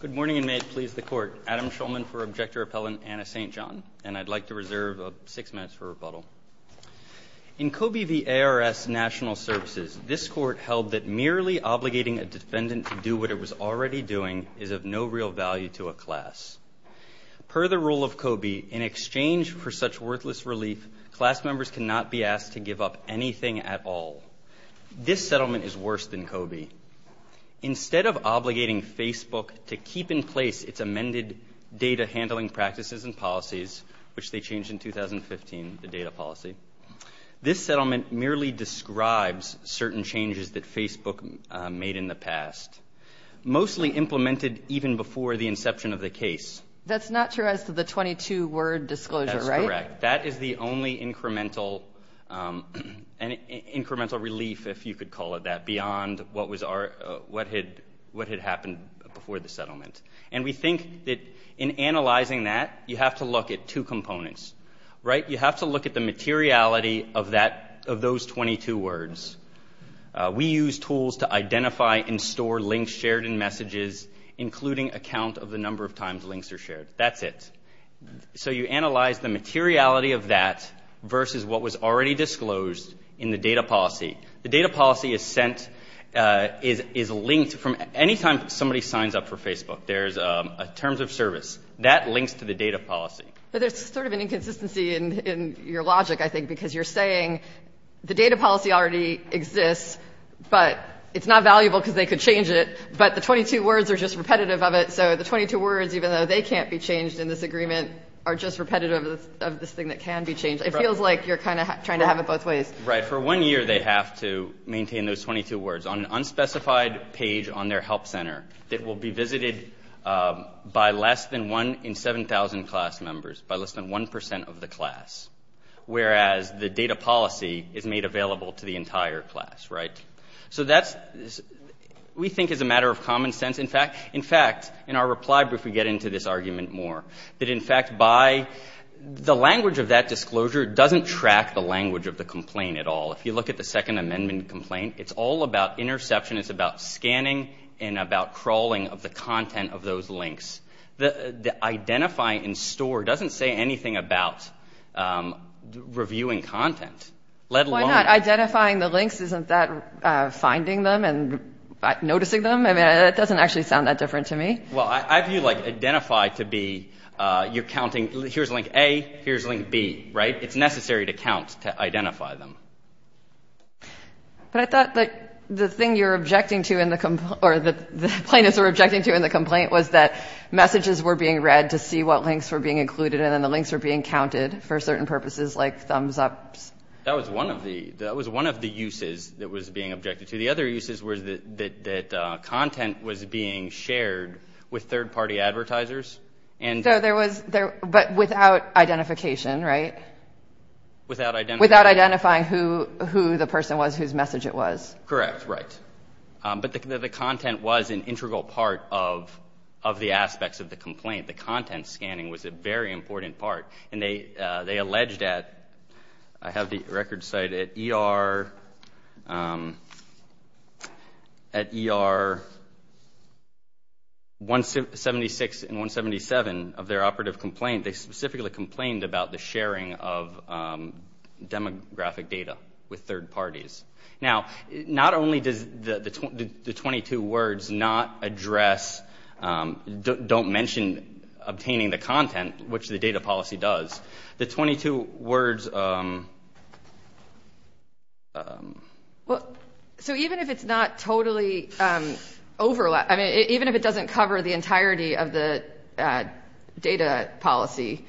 Good morning, and may it please the Court. Adam Schulman for Objector-Appellant, Anna St. John, and I'd like to reserve six minutes for rebuttal. In COBE v. ARS National Services, this Court held that merely obligating a defendant to do what it was already doing is of no real value to a class. Per the rule of COBE, in exchange for such worthless relief, class members cannot be asked to give up anything at all. This settlement is worse than COBE. Instead of obligating Facebook to keep in place its amended data handling practices and policies, which they changed in 2015, the data policy, this settlement merely describes certain changes that Facebook made in the past, mostly implemented even before the inception of the case. That's not true as to the 22-word disclosure, right? That is the only incremental relief, if you could call it that, beyond what had happened before the settlement. And we think that in analyzing that, you have to look at two components, right? You have to look at the materiality of those 22 words. We use tools to identify and store links shared in messages, including a count of the number of times links are shared. That's it. So you analyze the materiality of that versus what was already disclosed in the data policy. The data policy is linked from any time somebody signs up for Facebook. There's a terms of service. That links to the data policy. But there's sort of an inconsistency in your logic, I think, because you're saying the data policy already exists, but it's not valuable because they could change it, but the 22 words are just repetitive of it. So the 22 words, even though they can't be changed in this agreement, are just repetitive of this thing that can be changed. It feels like you're kind of trying to have it both ways. Right. For one year, they have to maintain those 22 words on an unspecified page on their help center that will be visited by less than one in 7,000 class members, by less than 1 percent of the class, whereas the data policy is made available to the entire class, right? So that, we think, is a matter of common sense. In fact, in our reply brief, we get into this argument more, that, in fact, by the language of that disclosure, it doesn't track the language of the complaint at all. If you look at the Second Amendment complaint, it's all about interception. It's about scanning and about crawling of the content of those links. The identifying in store doesn't say anything about reviewing content, let alone. Why not? Identifying the links, isn't that finding them and noticing them? I mean, that doesn't actually sound that different to me. Well, I view, like, identify to be you're counting, here's link A, here's link B, right? It's necessary to count to identify them. But I thought, like, the thing you're objecting to in the complaint, or the plaintiffs were objecting to in the complaint, was that messages were being read to see what links were being included, and then the links were being counted for certain purposes, like thumbs-ups. That was one of the uses that was being objected to. The other uses was that content was being shared with third-party advertisers. So there was – but without identification, right? Without identifying. Without identifying who the person was, whose message it was. Correct, right. But the content was an integral part of the aspects of the complaint. The content scanning was a very important part. And they alleged at – I have the record cited – at ER 176 and 177 of their operative complaint, they specifically complained about the sharing of demographic data with third parties. Now, not only does the 22 words not address – don't mention obtaining the content, which the data policy does, the 22 words – Well, so even if it's not totally overlap – I mean, even if it doesn't cover the entirety of the data policy,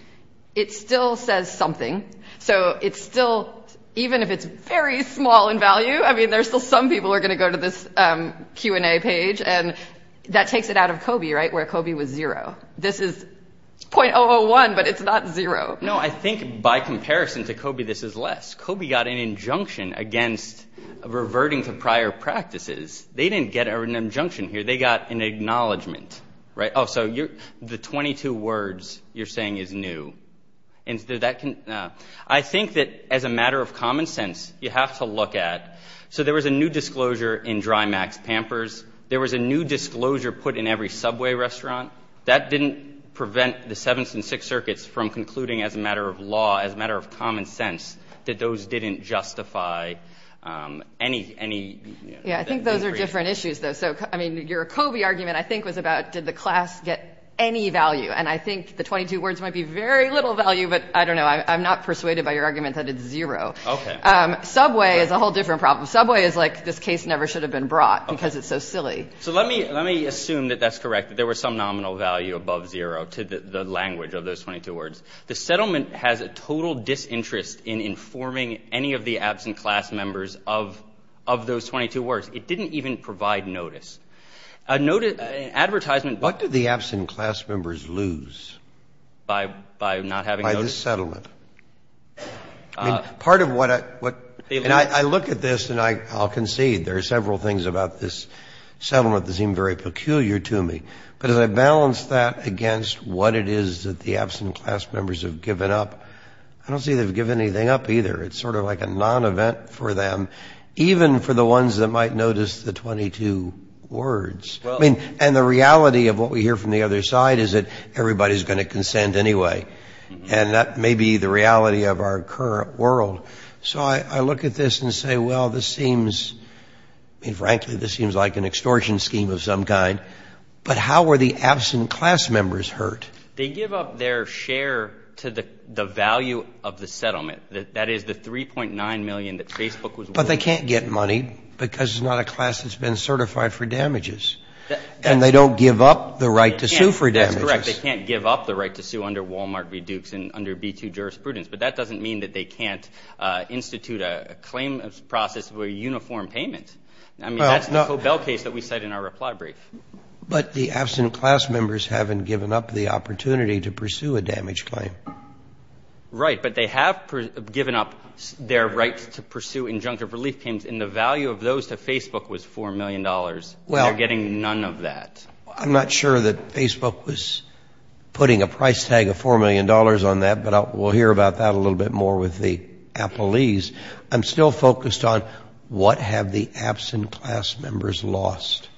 it still says something. So it's still – even if it's very small in value, I mean, there's still some people who are going to go to this Q&A page. And that takes it out of COBE, right, where COBE was zero. This is 0.001, but it's not zero. No, I think by comparison to COBE, this is less. COBE got an injunction against reverting to prior practices. They didn't get an injunction here. They got an acknowledgment, right? Oh, so the 22 words you're saying is new. I think that as a matter of common sense, you have to look at – so there was a new disclosure in Drymax Pampers. There was a new disclosure put in every Subway restaurant. That didn't prevent the Seventh and Sixth Circuits from concluding as a matter of law, as a matter of common sense, that those didn't justify any – Yeah, I think those are different issues, though. I mean, your COBE argument, I think, was about did the class get any value. And I think the 22 words might be very little value, but I don't know. I'm not persuaded by your argument that it's zero. Okay. Subway is a whole different problem. Subway is like this case never should have been brought because it's so silly. So let me assume that that's correct, that there was some nominal value above zero to the language of those 22 words. The settlement has a total disinterest in informing any of the absent class members of those 22 words. It didn't even provide notice. Advertisement – What did the absent class members lose by this settlement? I mean, part of what – and I look at this and I'll concede. There are several things about this settlement that seem very peculiar to me. But as I balance that against what it is that the absent class members have given up, I don't see they've given anything up either. It's sort of like a non-event for them, even for the ones that might notice the 22 words. I mean, and the reality of what we hear from the other side is that everybody is going to consent anyway. And that may be the reality of our current world. So I look at this and say, well, this seems – I mean, frankly, this seems like an extortion scheme of some kind. But how were the absent class members hurt? They give up their share to the value of the settlement. That is the $3.9 million that Facebook was willing to pay. But they can't get money because it's not a class that's been certified for damages. And they don't give up the right to sue for damages. That's correct. They can't give up the right to sue under Wal-Mart reduce and under B-2 jurisprudence. But that doesn't mean that they can't institute a claim process for a uniform payment. I mean, that's the Cobell case that we cite in our reply brief. But the absent class members haven't given up the opportunity to pursue a damage claim. Right. But they have given up their right to pursue injunctive relief claims. And the value of those to Facebook was $4 million. They're getting none of that. Well, I'm not sure that Facebook was putting a price tag of $4 million on that. But we'll hear about that a little bit more with the appellees. I'm still focused on what have the absent class members lost.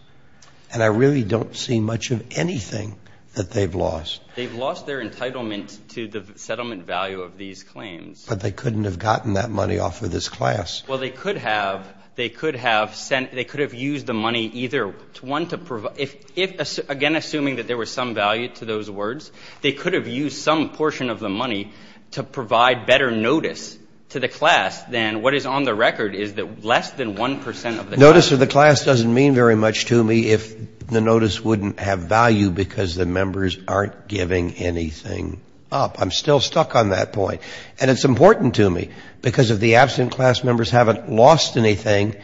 And I really don't see much of anything that they've lost. They've lost their entitlement to the settlement value of these claims. But they couldn't have gotten that money off of this class. Well, they could have. They could have sent they could have used the money either to want to provide if, again, assuming that there was some value to those words, they could have used some portion of the money to provide better notice to the class than what is on the record is that less than 1 percent of the class. Notice of the class doesn't mean very much to me if the notice wouldn't have value because the members aren't giving anything up. I'm still stuck on that point. And it's important to me because if the absent class members haven't lost anything,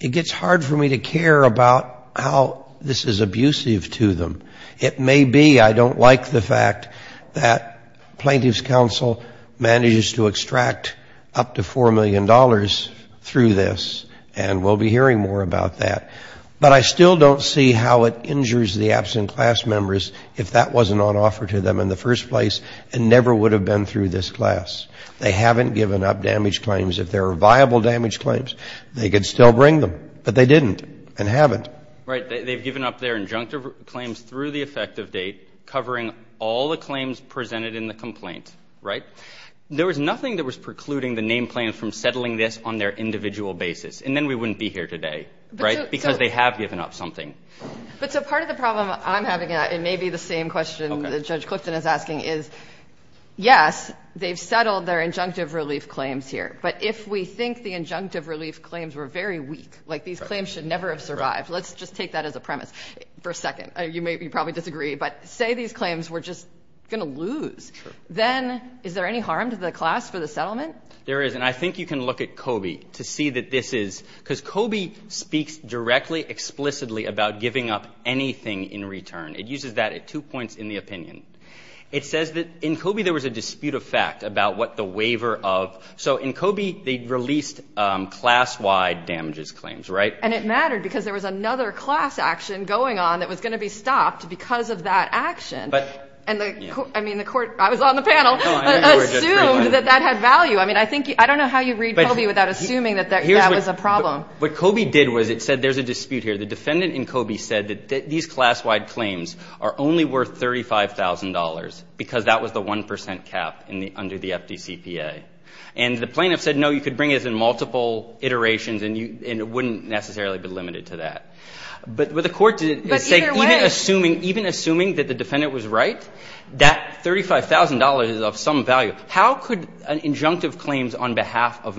it gets hard for me to care about how this is abusive to them. It may be. I don't like the fact that Plaintiff's Counsel manages to extract up to $4 million through this. And we'll be hearing more about that. But I still don't see how it injures the absent class members if that wasn't on offer to them in the first place and never would have been through this class. They haven't given up damage claims. If there are viable damage claims, they could still bring them. But they didn't and haven't. Right. They've given up their injunctive claims through the effective date covering all the claims presented in the complaint, right? There was nothing that was precluding the name claims from settling this on their individual basis. And then we wouldn't be here today, right? Because they have given up something. But so part of the problem I'm having and maybe the same question that Judge Clifton is asking is, yes, they've settled their injunctive relief claims here. But if we think the injunctive relief claims were very weak, like these claims should never have survived. Let's just take that as a premise for a second. You probably disagree. But say these claims were just going to lose. Then is there any harm to the class for the settlement? There is. And I think you can look at COBE to see that this is. Because COBE speaks directly, explicitly about giving up anything in return. It uses that at two points in the opinion. It says that in COBE there was a dispute of fact about what the waiver of. So in COBE they released class-wide damages claims, right? And it mattered because there was another class action going on that was going to be stopped because of that action. But. And I mean the court, I was on the panel, assumed that that had value. I mean I think, I don't know how you read COBE without assuming that that was a problem. What COBE did was it said there's a dispute here. The defendant in COBE said that these class-wide claims are only worth $35,000 because that was the 1% cap under the FDCPA. And the plaintiff said, no, you could bring it in multiple iterations and it wouldn't necessarily be limited to that. But the court didn't say. But either way. Even assuming that the defendant was right, that $35,000 is of some value. How could an injunctive claims on behalf of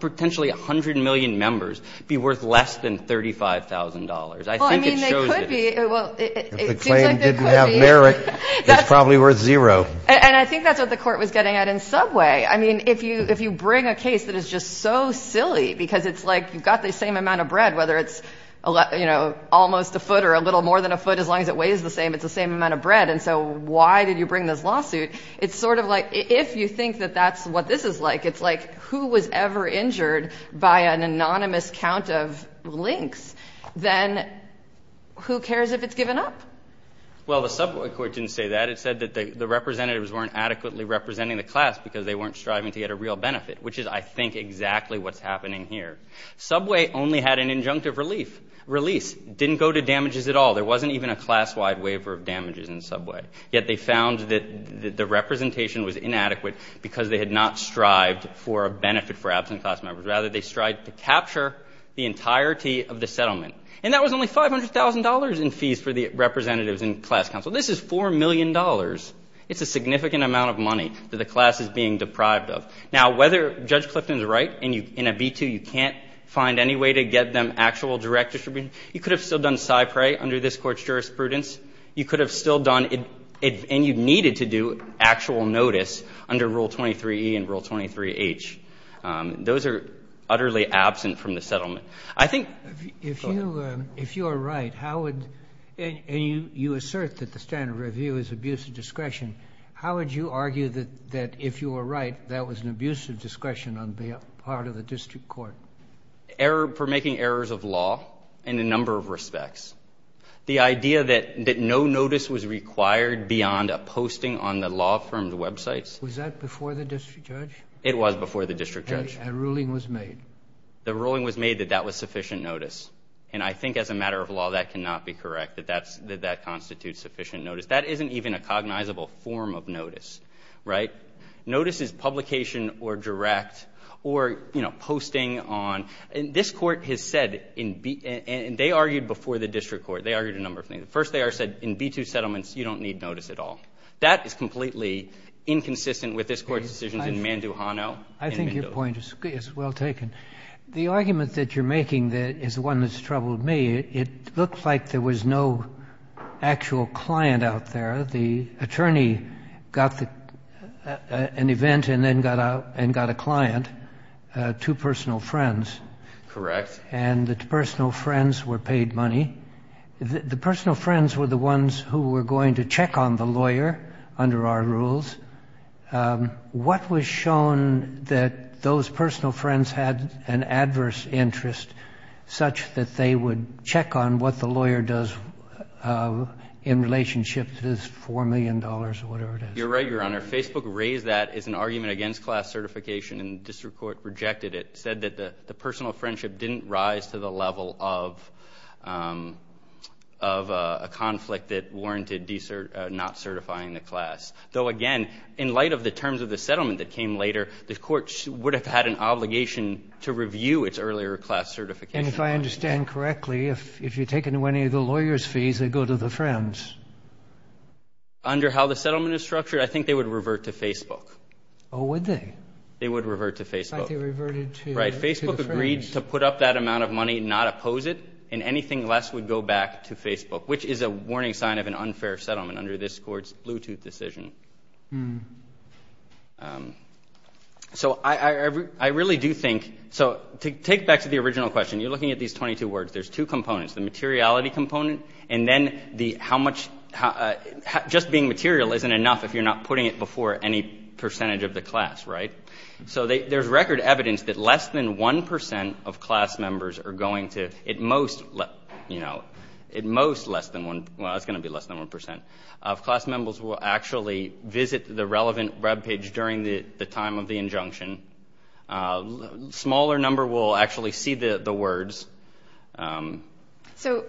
potentially 100 million members be worth less than $35,000? I think it shows that. Well, I mean, they could be. Well, it seems like they could be. If the claim didn't have merit, it's probably worth zero. And I think that's what the court was getting at in subway. I mean, if you bring a case that is just so silly because it's like you've got the same amount of bread, whether it's almost a foot or a little more than a foot, as long as it weighs the same, it's the same amount of bread. And so why did you bring this lawsuit? It's sort of like, if you think that that's what this is like, it's like, who was ever injured by an anonymous count of links? Then who cares if it's given up? Well, the subway court didn't say that. It said that the representatives weren't adequately representing the class because they weren't striving to get a real benefit, which is, I think, exactly what's happening here. Subway only had an injunctive release. Didn't go to damages at all. There wasn't even a class-wide waiver of damages in subway. Yet they found that the representation was inadequate because they had not strived for a benefit for absent class members. Rather, they strived to capture the entirety of the settlement. And that was only $500,000 in fees for the representatives and class counsel. This is $4 million. It's a significant amount of money that the class is being deprived of. Now, whether Judge Clifton is right and in a B-2 you can't find any way to get them actual direct distribution, you could have still done cypre under this Court's jurisprudence. You could have still done it, and you needed to do actual notice under Rule 23E and Rule 23H. Those are utterly absent from the settlement. I think— If you are right, how would—and you assert that the standard review is abusive discretion. How would you argue that if you were right, that was an abusive discretion on the part of the district court? For making errors of law in a number of respects. The idea that no notice was required beyond a posting on the law firm's websites— Was that before the district judge? It was before the district judge. A ruling was made. The ruling was made that that was sufficient notice. And I think as a matter of law, that cannot be correct, that that constitutes sufficient notice. That isn't even a cognizable form of notice, right? Notice is publication or direct or, you know, posting on— And this Court has said in B—and they argued before the district court. They argued a number of things. First, they said in B-2 settlements, you don't need notice at all. That is completely inconsistent with this Court's decisions in Manduhano. I think your point is well taken. The argument that you're making is one that's troubled me. It looked like there was no actual client out there. The attorney got an event and then got out and got a client, two personal friends. Correct. And the personal friends were paid money. The personal friends were the ones who were going to check on the lawyer under our rules. What was shown that those personal friends had an adverse interest such that they would check on what the lawyer does in relationship to this $4 million or whatever it is? You're right, Your Honor. Facebook raised that as an argument against class certification, and the district court rejected it. It said that the personal friendship didn't rise to the level of a conflict that warranted not certifying the class. Though, again, in light of the terms of the settlement that came later, the court would have had an obligation to review its earlier class certification. And if I understand correctly, if you take any of the lawyers' fees, they go to the friends. Under how the settlement is structured, I think they would revert to Facebook. Oh, would they? They would revert to Facebook. Like they reverted to the friends. Right. Facebook agreed to put up that amount of money, not oppose it, and anything less would go back to Facebook, which is a warning sign of an unfair settlement under this court's Bluetooth decision. So I really do think to take back to the original question, you're looking at these 22 words. There's two components, the materiality component and then just being material isn't enough if you're not putting it before any percentage of the class, right? So there's record evidence that less than 1 percent of class members are going to, at most, you know, at most less than 1, well, it's going to be less than 1 percent, of class members will actually visit the relevant web page during the time of the injunction. A smaller number will actually see the words. So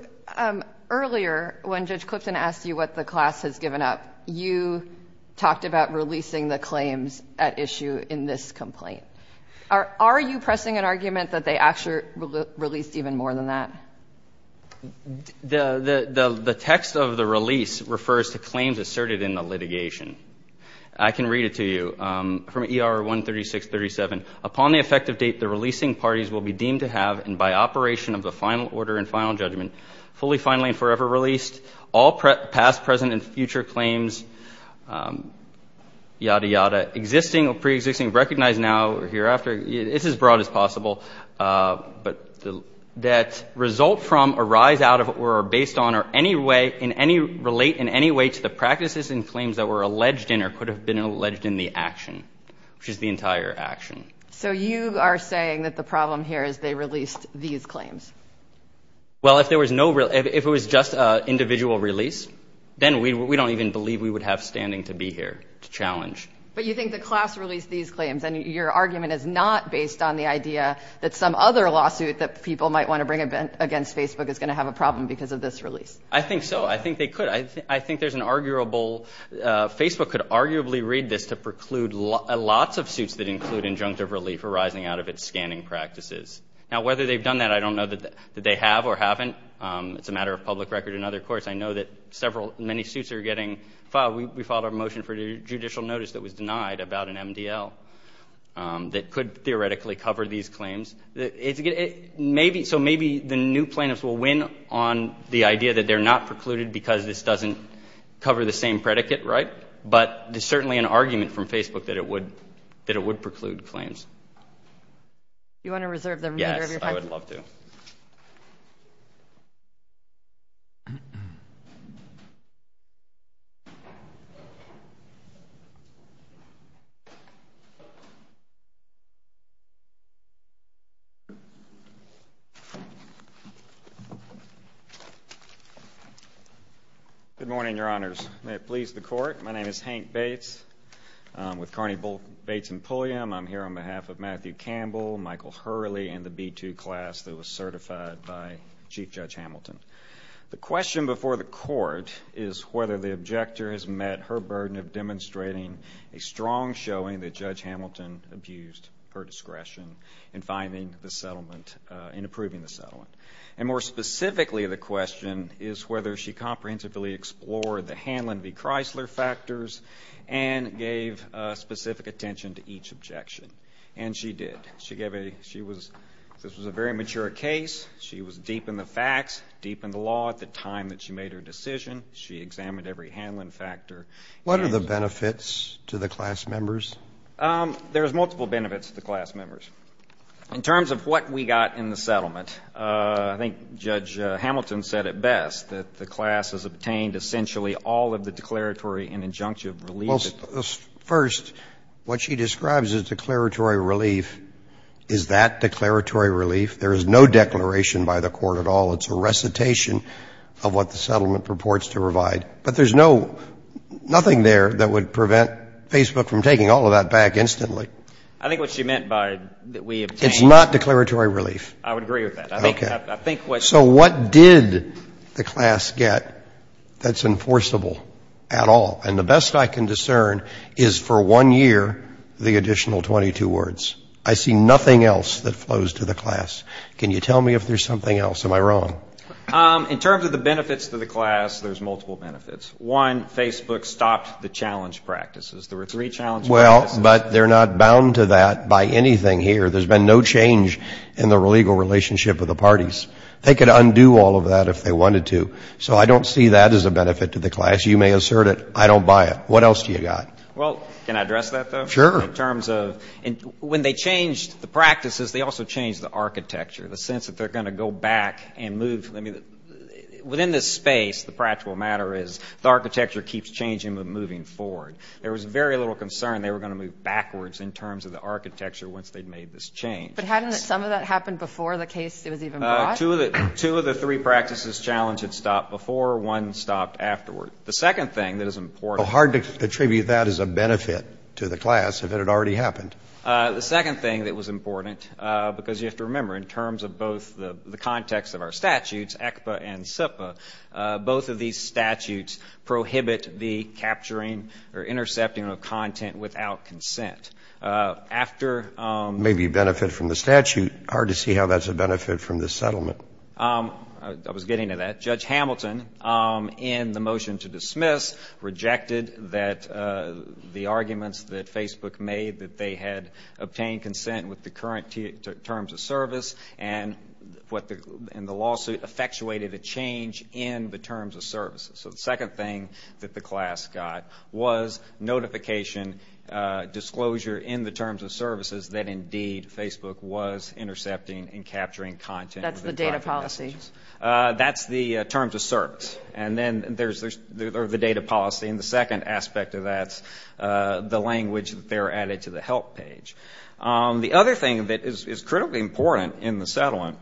earlier, when Judge Clifton asked you what the class has given up, you talked about releasing the claims at issue in this complaint. Are you pressing an argument that they actually released even more than that? The text of the release refers to claims asserted in the litigation. I can read it to you. From ER 13637, upon the effective date the releasing parties will be deemed to have, and by operation of the final order and final judgment, fully, finally, and forever released, all past, present, and future claims, yada, yada, existing or preexisting, recognized now or hereafter, it's as broad as possible, but that result from, arise out of, or are based on, or any way, in any, relate in any way to the practices and claims that were alleged in or could have been alleged in the action, which is the entire action. So you are saying that the problem here is they released these claims? Well, if there was no real, if it was just an individual release, then we don't even believe we would have standing to be here to challenge. But you think the class released these claims, and your argument is not based on the idea that some other lawsuit that people might want to bring against Facebook is going to have a problem because of this release? I think so. I think they could. I think there's an arguable, Facebook could arguably read this to preclude lots of suits that include injunctive relief arising out of its scanning practices. Now, whether they've done that, I don't know that they have or haven't. It's a matter of public record and other courts. I know that several, many suits are getting filed. We filed a motion for judicial notice that was denied about an MDL that could theoretically cover these claims. So maybe the new plaintiffs will win on the idea that they're not precluded because this doesn't cover the same predicate, right? But there's certainly an argument from Facebook that it would preclude claims. Do you want to reserve the remainder of your time? Yes, I would love to. Good morning, Your Honors. May it please the Court, my name is Hank Bates. I'm with Carney, Bates & Pulliam. I'm here on behalf of Matthew Campbell, Michael Hurley, and the B2 class that was certified by Chief Judge Hamilton. The question before the Court is whether the objector has met her burden of demonstrating a strong showing that Judge Hamilton abused her discretion in finding the settlement, in approving the settlement. And more specifically, the question is whether she comprehensively explored the Hanlon v. Chrysler factors and gave specific attention to each objection. And she did. She gave a, she was, this was a very mature case. She was deep in the facts, deep in the law at the time that she made her decision. She examined every Hanlon factor. What are the benefits to the class members? There's multiple benefits to the class members. In terms of what we got in the settlement, I think Judge Hamilton said it best, that the class has obtained essentially all of the declaratory and injunctive relief. First, what she describes as declaratory relief, is that declaratory relief? There is no declaration by the Court at all. It's a recitation of what the settlement purports to provide. But there's no, nothing there that would prevent Facebook from taking all of that back instantly. I think what she meant by that we obtained. It's not declaratory relief. I would agree with that. Okay. So what did the class get that's enforceable at all? And the best I can discern is for one year, the additional 22 words. I see nothing else that flows to the class. Can you tell me if there's something else? Am I wrong? In terms of the benefits to the class, there's multiple benefits. One, Facebook stopped the challenge practices. There were three challenge practices. Well, but they're not bound to that by anything here. There's been no change in the legal relationship with the parties. They could undo all of that if they wanted to. So I don't see that as a benefit to the class. You may assert it. I don't buy it. What else do you got? Well, can I address that, though? Sure. In terms of, when they changed the practices, they also changed the architecture, the sense that they're going to go back and move. Within this space, the practical matter is the architecture keeps changing but moving forward. There was very little concern they were going to move backwards in terms of the change. But hadn't some of that happened before the case was even brought? Two of the three practices challenged had stopped before. One stopped afterward. The second thing that is important. Well, hard to attribute that as a benefit to the class if it had already happened. The second thing that was important, because you have to remember, in terms of both the context of our statutes, ECPA and CIPA, both of these statutes prohibit the capturing or intercepting of content without consent. Maybe benefit from the statute. Hard to see how that's a benefit from the settlement. I was getting to that. Judge Hamilton, in the motion to dismiss, rejected that the arguments that Facebook made that they had obtained consent with the current terms of service and the lawsuit effectuated a change in the terms of service. So the second thing that the class got was notification disclosure in the terms of services that indeed Facebook was intercepting and capturing content. That's the data policy. That's the terms of service. And then there's the data policy. And the second aspect of that's the language that they're added to the help page. The other thing that is critically important in the settlement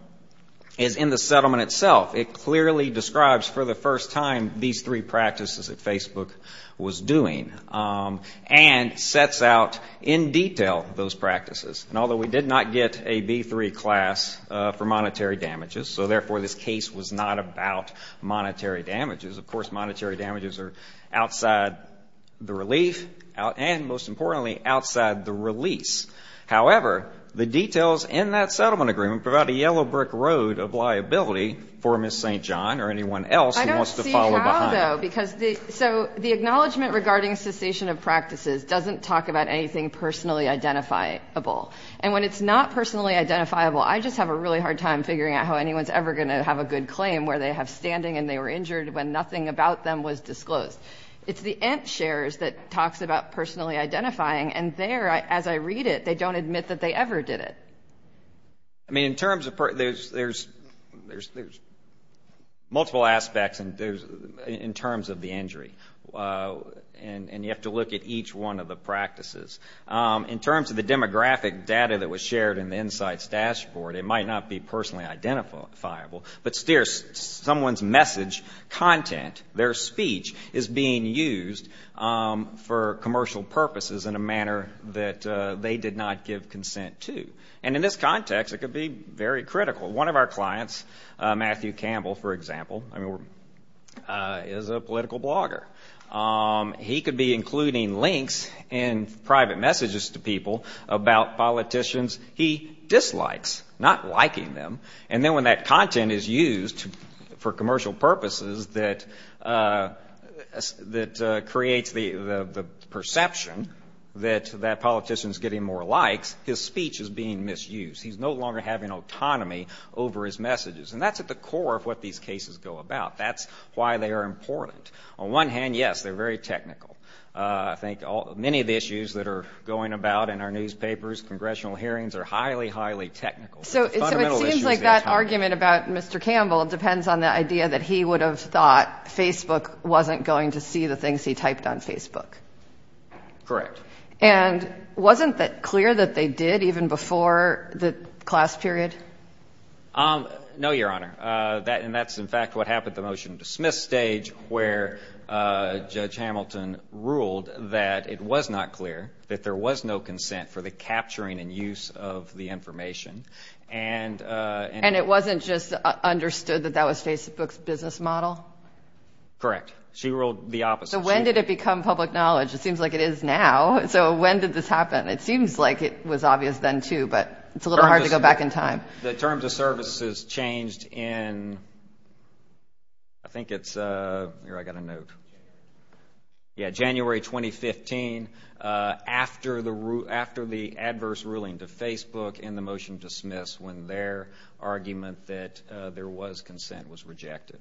is in the settlement itself. It clearly describes for the first time these three practices that Facebook was doing and sets out in detail those practices. And although we did not get a B3 class for monetary damages, so therefore this case was not about monetary damages. Of course, monetary damages are outside the relief and, most importantly, outside the release. However, the details in that settlement agreement provide a yellow brick road of anyone else who wants to follow behind it. I don't see how, though. So the acknowledgment regarding cessation of practices doesn't talk about anything personally identifiable. And when it's not personally identifiable, I just have a really hard time figuring out how anyone's ever going to have a good claim where they have standing and they were injured when nothing about them was disclosed. It's the end shares that talks about personally identifying. And there, as I read it, they don't admit that they ever did it. I mean, in terms of there's multiple aspects in terms of the injury. And you have to look at each one of the practices. In terms of the demographic data that was shared in the Insights Dashboard, it might not be personally identifiable. But someone's message, content, their speech is being used for commercial purposes in a manner that they did not give consent to. And in this context, it could be very critical. One of our clients, Matthew Campbell, for example, is a political blogger. He could be including links and private messages to people about politicians he dislikes, not liking them. And then when that content is used for commercial purposes that creates the perception that that politician is getting more likes, his speech is being misused. He's no longer having autonomy over his messages. And that's at the core of what these cases go about. That's why they are important. On one hand, yes, they're very technical. I think many of the issues that are going about in our newspapers, congressional hearings are highly, highly technical. So it seems like that argument about Mr. Campbell depends on the idea that he would have thought Facebook wasn't going to see the things he typed on Facebook. Correct. And wasn't it clear that they did even before the class period? No, Your Honor. And that's, in fact, what happened at the motion to dismiss stage where Judge Hamilton ruled that it was not clear that there was no consent for the capturing and use of the information. And it wasn't just understood that that was Facebook's business model? Correct. She ruled the opposite. So when did it become public knowledge? It seems like it is now. So when did this happen? It seems like it was obvious then, too, but it's a little hard to go back in time. The terms of service has changed in, I think it's, here, I've got a note. Yeah, January 2015, after the adverse ruling to Facebook in the motion to dismiss when their argument that there was consent was rejected.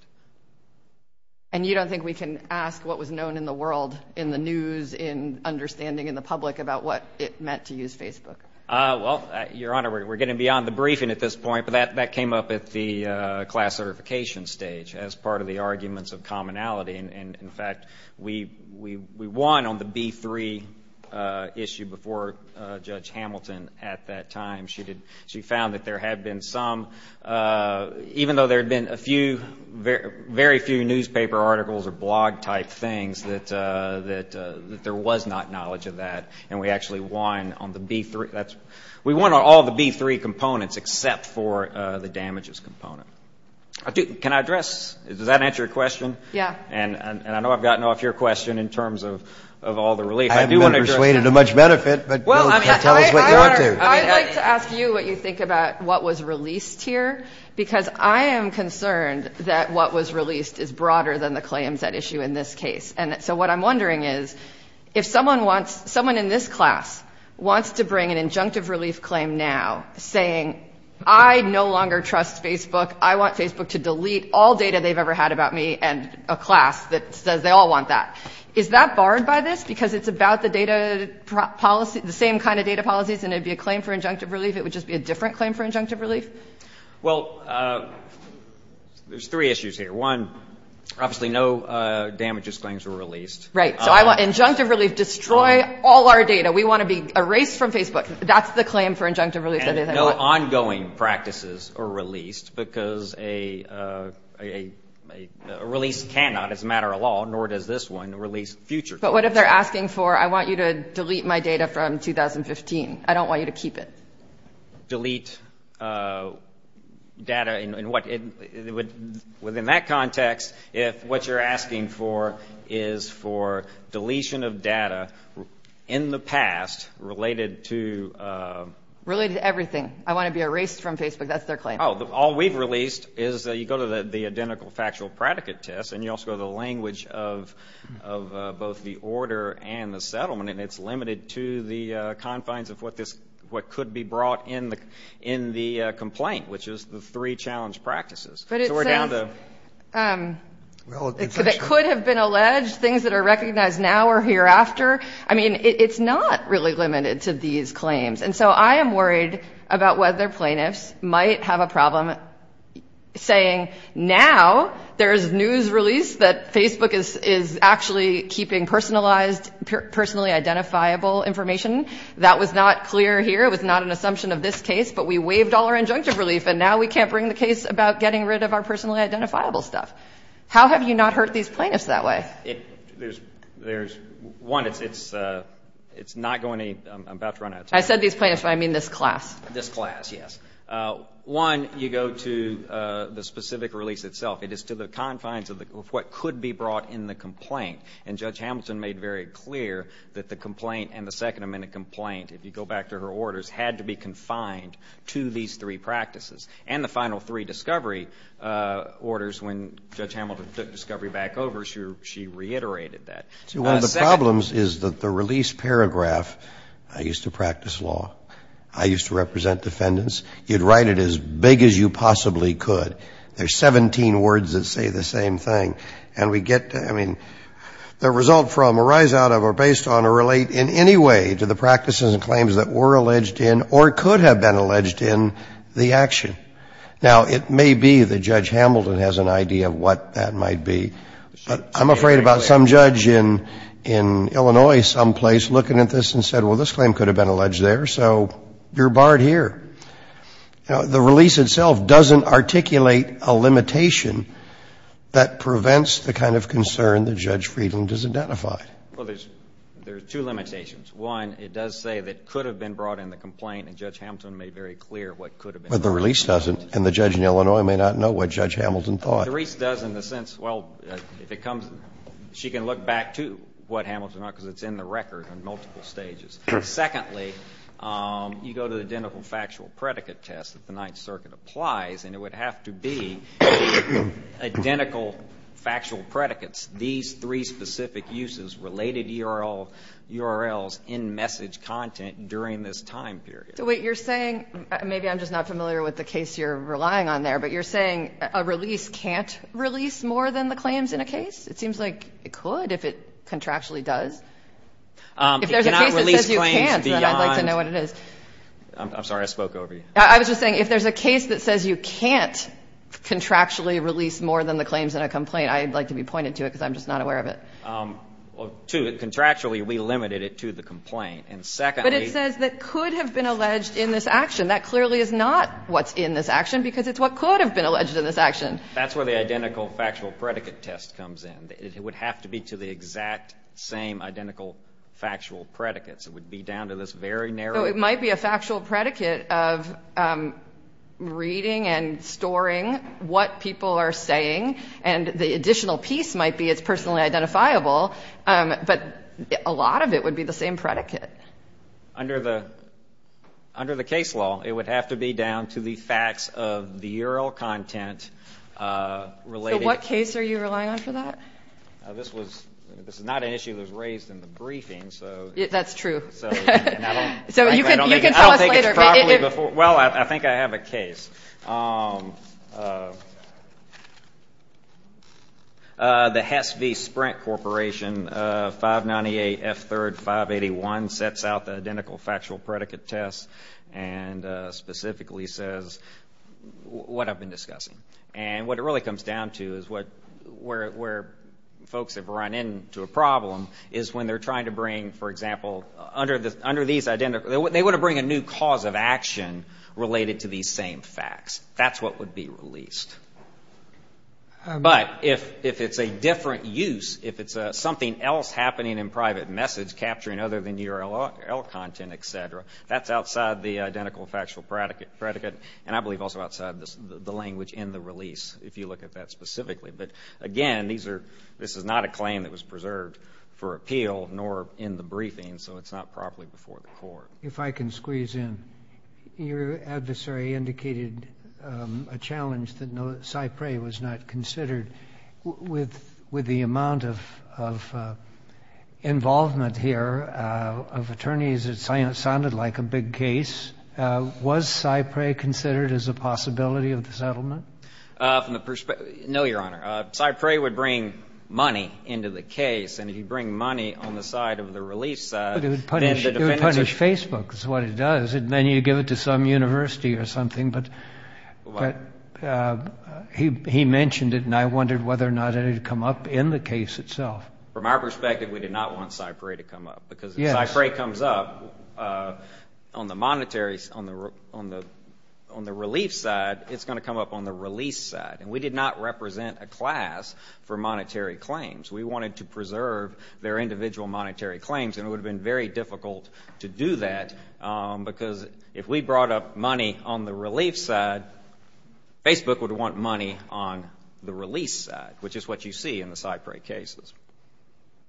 And you don't think we can ask what was known in the world, in the news, in understanding in the public about what it meant to use Facebook? Well, Your Honor, we're getting beyond the briefing at this point, but that came up at the class certification stage as part of the arguments of commonality. And, in fact, we won on the B3 issue before Judge Hamilton at that time. She found that there had been some, even though there had been a few, very few newspaper articles or blog-type things, that there was not knowledge of that. And we actually won on the B3. We won on all the B3 components except for the damages component. Can I address? Does that answer your question? Yeah. And I know I've gotten off your question in terms of all the relief. I haven't been persuaded to much benefit, but tell us what you want to. I'd like to ask you what you think about what was released here, because I am concerned that what was released is broader than the claims at issue in this case. And so what I'm wondering is, if someone wants, someone in this class wants to bring an injunctive relief claim now, saying I no longer trust Facebook, I want Facebook to delete all data they've ever had about me, and a class that says they all want that, is that barred by this because it's about the data policy, the same kind of data policies, and it would be a claim for injunctive relief? It would just be a different claim for injunctive relief? Well, there's three issues here. One, obviously no damages claims were released. Right. So I want injunctive relief. Destroy all our data. We want to be erased from Facebook. That's the claim for injunctive relief that they want. And no ongoing practices are released, because a release cannot as a matter of law, nor does this one, release future. But what if they're asking for, I want you to delete my data from 2015. I don't want you to keep it. Delete data in what, within that context, if what you're asking for is for deletion of data in the past related to... Related to everything. I want to be erased from Facebook. That's their claim. Oh, all we've released is you go to the identical factual predicate test, and you also go to the language of both the order and the settlement, and it's limited to the confines of what could be brought in the complaint, which is the three challenge practices. But it says... So we're down to... Relative... It could have been alleged. Things that are recognized now or hereafter. I mean, it's not really limited to these claims. And so I am worried about whether plaintiffs might have a problem saying, now there's news release that Facebook is actually keeping personalized, personally identifiable information. That was not clear here. It was not an assumption of this case. But we waived all our injunctive relief, and now we can't bring the case about getting rid of our personally identifiable stuff. How have you not hurt these plaintiffs that way? There's... One, it's not going to... I'm about to run out of time. I said these plaintiffs, but I mean this class. This class, yes. One, you go to the specific release itself. It is to the confines of what could be brought in the complaint. And Judge Hamilton made very clear that the complaint and the Second Amendment complaint, if you go back to her orders, had to be confined to these three practices. And the final three discovery orders, when Judge Hamilton took discovery back over, she reiterated that. One of the problems is that the release paragraph, I used to practice law, I used to write it as big as you possibly could. There's 17 words that say the same thing. And we get, I mean, the result from a rise out of or based on or relate in any way to the practices and claims that were alleged in or could have been alleged in the action. Now, it may be that Judge Hamilton has an idea of what that might be. But I'm afraid about some judge in Illinois someplace looking at this and said, well, this claim could have been alleged there. So you're barred here. Now, the release itself doesn't articulate a limitation that prevents the kind of concern that Judge Friedland has identified. Well, there's two limitations. One, it does say that could have been brought in the complaint, and Judge Hamilton made very clear what could have been brought in the complaint. But the release doesn't. And the judge in Illinois may not know what Judge Hamilton thought. The release does in the sense, well, if it comes, she can look back to what Hamilton wrote because it's in the record in multiple stages. Secondly, you go to the identical factual predicate test that the Ninth Circuit applies, and it would have to be identical factual predicates. These three specific uses related URLs in message content during this time period. So, wait, you're saying, maybe I'm just not familiar with the case you're relying on there, but you're saying a release can't release more than the claims in a case? It seems like it could if it contractually does. If there's a case that says you can't, then I'd like to know what it is. I'm sorry. I spoke over you. I was just saying, if there's a case that says you can't contractually release more than the claims in a complaint, I'd like to be pointed to it because I'm just not aware of it. Two, contractually, we limited it to the complaint. And secondly — But it says that could have been alleged in this action. That clearly is not what's in this action because it's what could have been alleged in this action. That's where the identical factual predicate test comes in. It would have to be to the exact same identical factual predicates. It would be down to this very narrow — So it might be a factual predicate of reading and storing what people are saying, and the additional piece might be it's personally identifiable, but a lot of it would be the same predicate. Under the case law, it would have to be down to the facts of the URL content related — This is not an issue that was raised in the briefing, so — That's true. You can tell us later. Well, I think I have a case. The Hess v. Sprint Corporation, 598F3RD581, sets out the identical factual predicate test and specifically says what I've been discussing. And what it really comes down to is where folks have run into a problem is when they're trying to bring, for example, under these — They want to bring a new cause of action related to these same facts. That's what would be released. But if it's a different use, if it's something else happening in private message capturing other than URL content, et cetera, that's outside the identical factual predicate and I believe also outside the language in the release, if you look at that specifically. But again, these are — this is not a claim that was preserved for appeal nor in the briefing, so it's not properly before the court. If I can squeeze in, your adversary indicated a challenge that Cyprey was not considered. With the amount of involvement here of attorneys, it sounded like a big case. Was Cyprey considered as a possibility of the settlement? No, Your Honor. Cyprey would bring money into the case, and if you bring money on the side of the release — But it would punish Facebook. That's what it does. And then you give it to some university or something. But he mentioned it, and I wondered whether or not it had come up in the case itself. From our perspective, we did not want Cyprey to come up. Because if Cyprey comes up on the relief side, it's going to come up on the release side. And we did not represent a class for monetary claims. We wanted to preserve their individual monetary claims, and it would have been very difficult to do that because if we brought up money on the relief side, Facebook would want money on the release side, which is what you see in the Cyprey cases.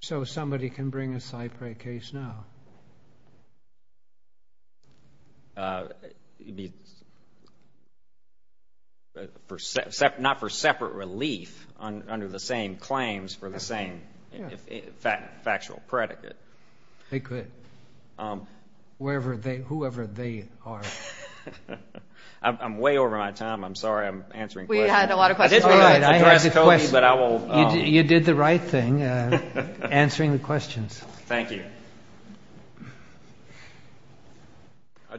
So somebody can bring a Cyprey case now? Not for separate relief under the same claims for the same factual predicate. They could, whoever they are. I'm way over my time. I'm sorry I'm answering questions. We had a lot of questions. You did the right thing answering the questions. Thank you.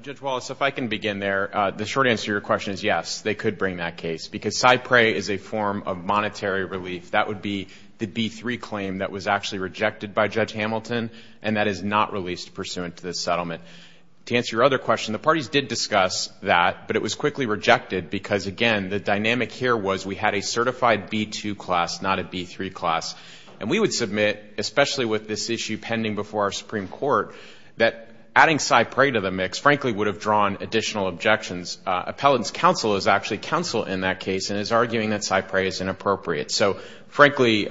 Judge Wallace, if I can begin there. The short answer to your question is yes, they could bring that case. Because Cyprey is a form of monetary relief. That would be the B-3 claim that was actually rejected by Judge Hamilton, and that is not released pursuant to the settlement. To answer your other question, the parties did discuss that, but it was quickly rejected because, again, the dynamic here was we had a certified B-2 class, not a B-3 class, and we would submit, especially with this issue pending before our Supreme Court, that adding Cyprey to the mix, frankly, would have drawn additional objections. Appellant's counsel is actually counsel in that case and is arguing that Cyprey is inappropriate. So, frankly,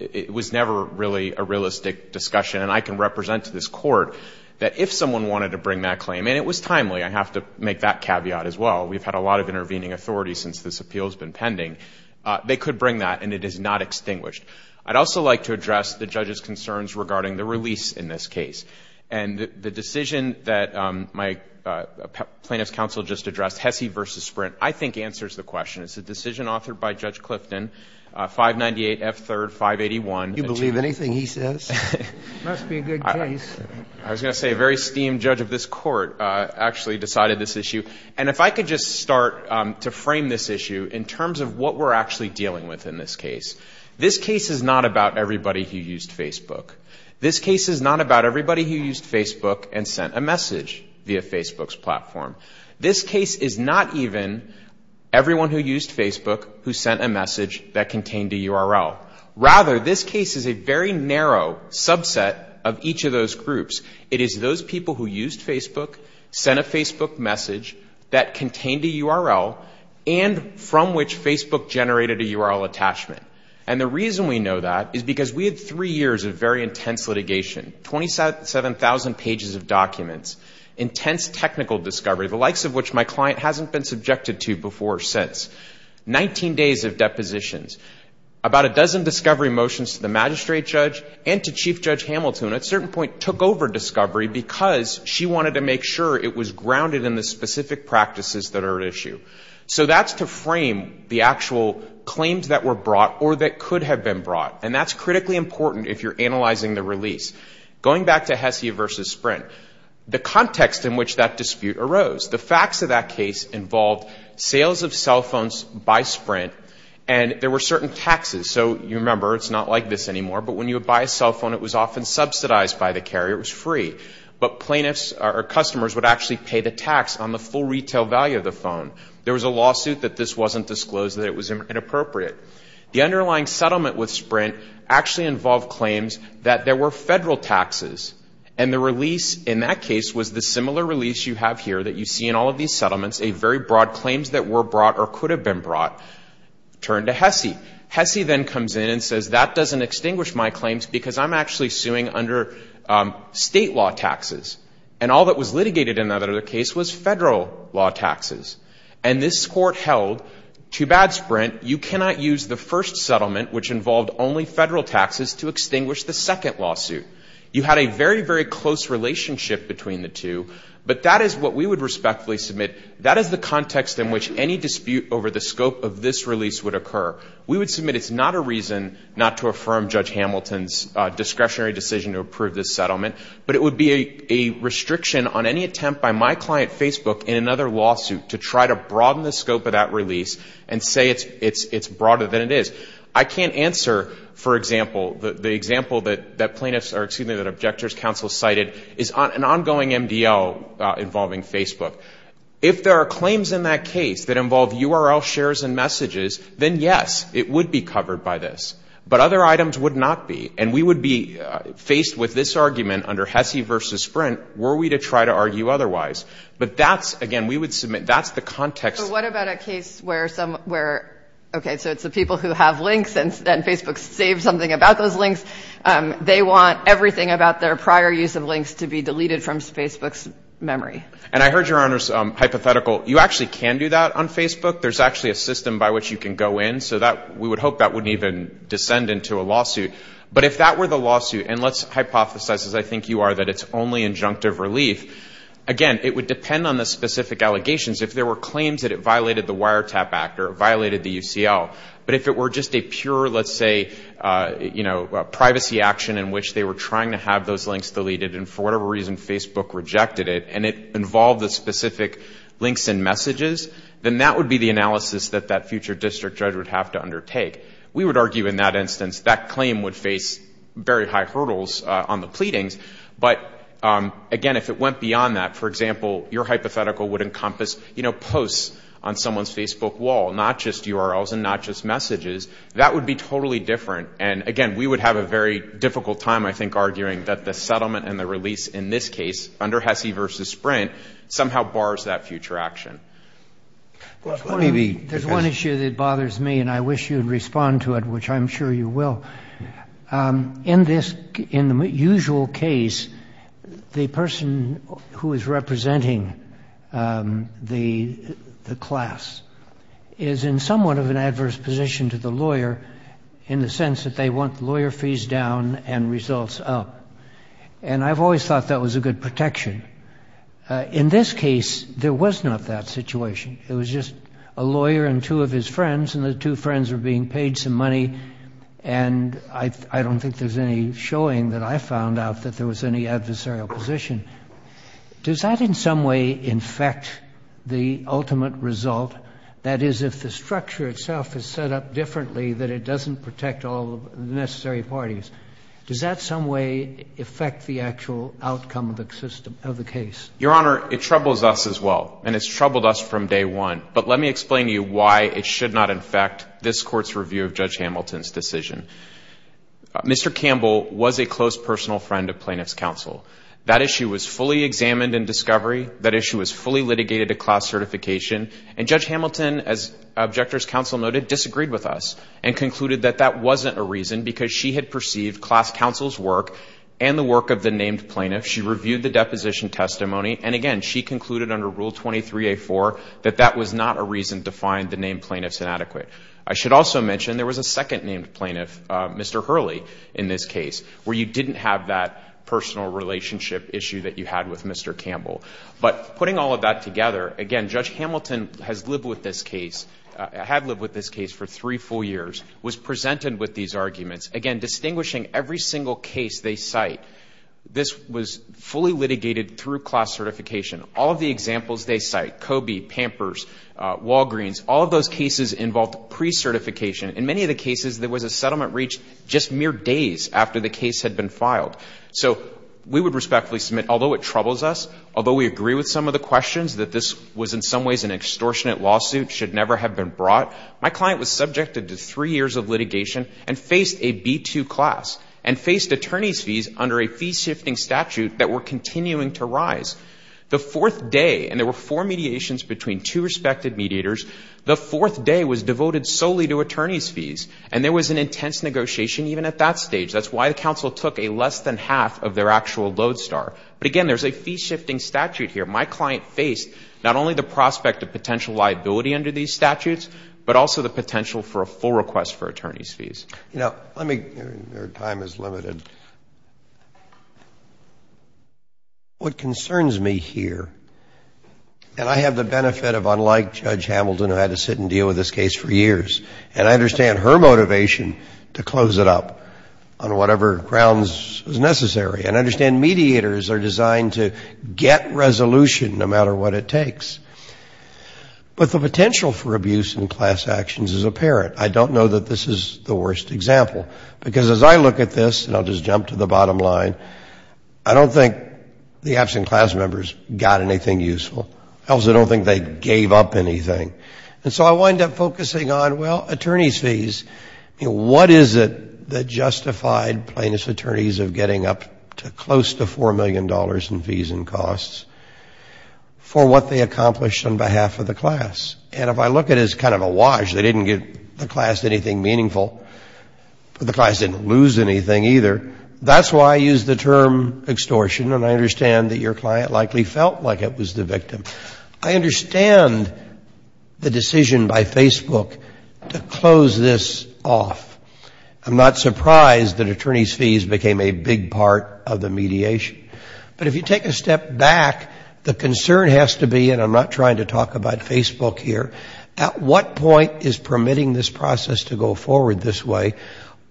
it was never really a realistic discussion, and I can represent to this court that if someone wanted to bring that claim, and it was timely. I have to make that caveat as well. We've had a lot of intervening authorities since this appeal has been pending. They could bring that, and it is not extinguished. I'd also like to address the judge's concerns regarding the release in this case. And the decision that my plaintiff's counsel just addressed, Hesse v. Sprint, I think answers the question. It's a decision authored by Judge Clifton, 598 F. 3rd 581. Do you believe anything he says? It must be a good case. I was going to say a very esteemed judge of this court actually decided this issue. And if I could just start to frame this issue in terms of what we're actually dealing with in this case. This case is not about everybody who used Facebook. This case is not about everybody who used Facebook and sent a message via Facebook's platform. This case is not even everyone who used Facebook who sent a message that contained a URL. Rather, this case is a very narrow subset of each of those groups. It is those people who used Facebook, sent a Facebook message that contained a URL, and from which Facebook generated a URL attachment. And the reason we know that is because we had three years of very intense litigation, 27,000 pages of documents, intense technical discovery, the likes of which my client hasn't been subjected to before or since, 19 days of depositions, about a dozen discovery motions to the magistrate judge and to Chief Judge Hamilton, at a certain point took over discovery because she wanted to make sure it was grounded in the specific practices that are at issue. So that's to frame the actual claims that were brought or that could have been brought. And that's critically important if you're analyzing the release. Going back to HESI versus Sprint, the context in which that dispute arose, the facts of that case involved sales of cell phones by Sprint, and there were certain taxes. So you remember, it's not like this anymore, but when you would buy a cell phone, it was often subsidized by the carrier. It was free. But plaintiffs or customers would actually pay the tax on the full retail value of the phone. There was a lawsuit that this wasn't disclosed, that it was inappropriate. The underlying settlement with Sprint actually involved claims that there were federal taxes, and the release in that case was the similar release you have here that you see in all of these settlements, a very broad claims that were brought or could have been brought, turned to HESI. HESI then comes in and says, that doesn't extinguish my claims because I'm actually suing under state law taxes. And all that was litigated in that other case was federal law taxes. And this court held, to bad Sprint, you cannot use the first settlement, which involved only federal taxes, to extinguish the second lawsuit. You had a very, very close relationship between the two, but that is what we would respectfully submit. That is the context in which any dispute over the scope of this release would occur. We would submit it's not a reason not to affirm Judge Hamilton's discretionary decision to approve this settlement, but it would be a restriction on any attempt by my client, Facebook, in another lawsuit to try to broaden the scope of that release and say it's broader than it is. I can't answer, for example, the example that plaintiffs or, excuse me, that objectors counsel cited is an ongoing MDL involving Facebook. If there are claims in that case that involve URL shares and messages, then yes, it would be covered by this. But other items would not be. And we would be faced with this argument under HESI versus Sprint were we to try to argue otherwise. But that's, again, we would submit, that's the context. But what about a case where some, where, okay, so it's the people who have links, and then Facebook saves something about those links. They want everything about their prior use of links to be deleted from Facebook's memory. And I heard Your Honor's hypothetical. You actually can do that on Facebook. There's actually a system by which you can go in. So that, we would hope that wouldn't even descend into a lawsuit. But if that were the lawsuit, and let's hypothesize, as I think you are, that it's only injunctive relief, again, it would depend on the specific allegations. If there were claims that it violated the Wiretap Act or it violated the UCL, but if it were just a pure, let's say, you know, privacy action in which they were trying to have those links deleted and for whatever reason Facebook rejected it, and it involved the specific links and messages, then that would be the analysis that that future district judge would have to undertake. We would argue in that instance that claim would face very high hurdles on the pleadings. But, again, if it went beyond that, for example, your hypothetical would encompass, you know, posts on someone's Facebook wall, not just URLs and not just messages. That would be totally different. And, again, we would have a very difficult time, I think, arguing that the settlement and the release in this case under Hesse v. Sprint somehow bars that future action. There's one issue that bothers me, and I wish you would respond to it, which I'm sure you will. In the usual case, the person who is representing the class is in somewhat of an adverse position to the lawyer in the sense that they want lawyer fees down and results up. And I've always thought that was a good protection. In this case, there was not that situation. It was just a lawyer and two of his friends, and the two friends were being paid some money. And I don't think there's any showing that I found out that there was any adversarial position. Does that in some way infect the ultimate result? That is, if the structure itself is set up differently, that it doesn't protect all the necessary parties. Does that some way affect the actual outcome of the system, of the case? Your Honor, it troubles us as well, and it's troubled us from day one. But let me explain to you why it should not infect this Court's review of Judge Hamilton's decision. Mr. Campbell was a close personal friend of plaintiff's counsel. That issue was fully examined in discovery. That issue was fully litigated to class certification. And Judge Hamilton, as objector's counsel noted, disagreed with us and concluded that that wasn't a reason because she had perceived class counsel's work and the work of the named plaintiff. She reviewed the deposition testimony, and again, she concluded under Rule 23A4 that that was not a reason to find the named plaintiff's inadequate. I should also mention there was a second named plaintiff, Mr. Hurley, in this case, where you didn't have that personal relationship issue that you had with Mr. Campbell. But putting all of that together, again, Judge Hamilton has lived with this case, had lived with this case for three full years, was presented with these arguments, again, distinguishing every single case they cite. This was fully litigated through class certification. All of the examples they cite, Coby, Pampers, Walgreens, all of those cases involved pre-certification. In many of the cases, there was a settlement reached just mere days after the case had been filed. So we would respectfully submit, although it troubles us, although we agree with some of the questions that this was in some ways an extortionate lawsuit, should never have been brought, my client was subjected to three years of litigation and faced a B-2 class and faced attorney's fees under a fee-shifting statute that were continuing to rise. The fourth day, and there were four mediations between two respected mediators, the fourth day was devoted solely to attorney's fees. And there was an intense negotiation even at that stage. That's why the counsel took a less than half of their actual lodestar. But, again, there's a fee-shifting statute here. My client faced not only the prospect of potential liability under these statutes, but also the potential for a full request for attorney's fees. You know, let me, your time is limited. What concerns me here, and I have the benefit of, unlike Judge Hamilton, who had to sit and deal with this case for years, and I understand her motivation to close it up on whatever grounds was necessary, and I understand mediators are designed to get resolution no matter what it takes. But the potential for abuse in class actions is apparent. I don't know that this is the worst example. Because as I look at this, and I'll just jump to the bottom line, I don't think the absent class members got anything useful. I also don't think they gave up anything. And so I wind up focusing on, well, attorney's fees. What is it that justified plaintiff's attorneys of getting up to close to $4 million in fees and costs for what they accomplished on behalf of the class? And if I look at it as kind of a wash, they didn't give the class anything meaningful. The class didn't lose anything either. That's why I use the term extortion, and I understand that your client likely felt like it was the victim. I understand the decision by Facebook to close this off. I'm not surprised that attorney's fees became a big part of the mediation. But if you take a step back, the concern has to be, and I'm not trying to talk about Facebook here, at what point is permitting this process to go forward this way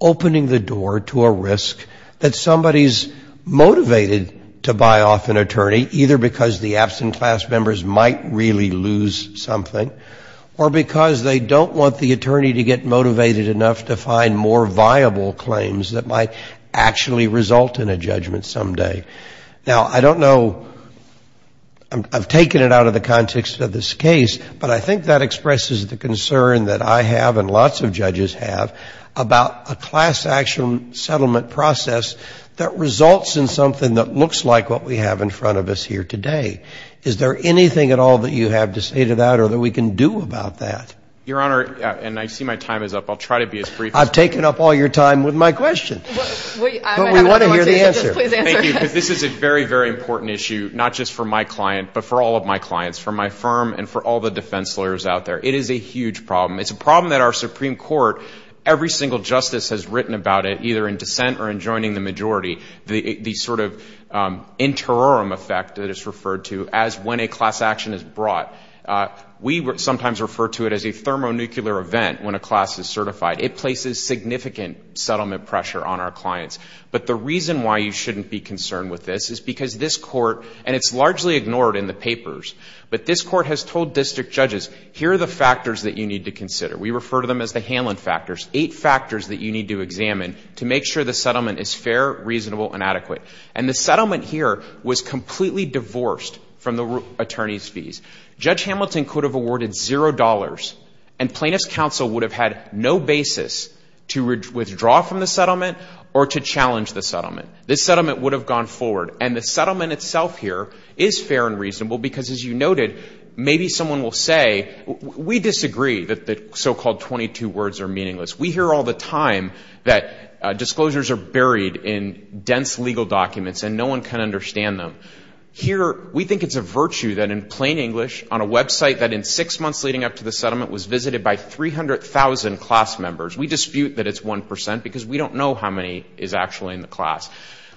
opening the door to a risk that somebody's motivated to buy off an attorney, either because the absent class members might really lose something, or because they don't want the attorney to get motivated enough to find more viable claims that might actually result in a judgment someday. Now, I don't know, I've taken it out of the context of this case, but I think that expresses the concern that I have and lots of judges have about a class action settlement process that results in something that looks like what we have in front of us here today. Is there anything at all that you have to say to that or that we can do about that? Your Honor, and I see my time is up, I'll try to be as brief as I can. I've taken up all your time with my question. But we want to hear the answer. Thank you, because this is a very, very important issue, not just for my client, but for all of my clients, for my firm and for all the defense lawyers out there. It is a huge problem. It's a problem that our Supreme Court, every single justice has written about it, either in dissent or in joining the majority, the sort of interim effect that it's referred to as when a class action is brought. We sometimes refer to it as a thermonuclear event when a class is certified. It places significant settlement pressure on our clients. But the reason why you shouldn't be concerned with this is because this Court, and it's largely ignored in the papers, but this Court has told district judges, here are the factors that you need to consider. We refer to them as the Hanlon factors, eight factors that you need to examine to make sure the settlement is fair, reasonable, and adequate. And the settlement here was completely divorced from the attorney's fees. Judge Hamilton could have awarded $0, and plaintiff's counsel would have had no basis to withdraw from the settlement or to challenge the settlement. This settlement would have gone forward. And the settlement itself here is fair and reasonable because, as you noted, maybe someone will say, we disagree that the so-called 22 words are meaningless. We hear all the time that disclosures are buried in dense legal documents and no one can understand them. Here, we think it's a virtue that in plain English, on a website that in six months leading up to the settlement was visited by 300,000 class members. We dispute that it's 1% because we don't know how many is actually in the class.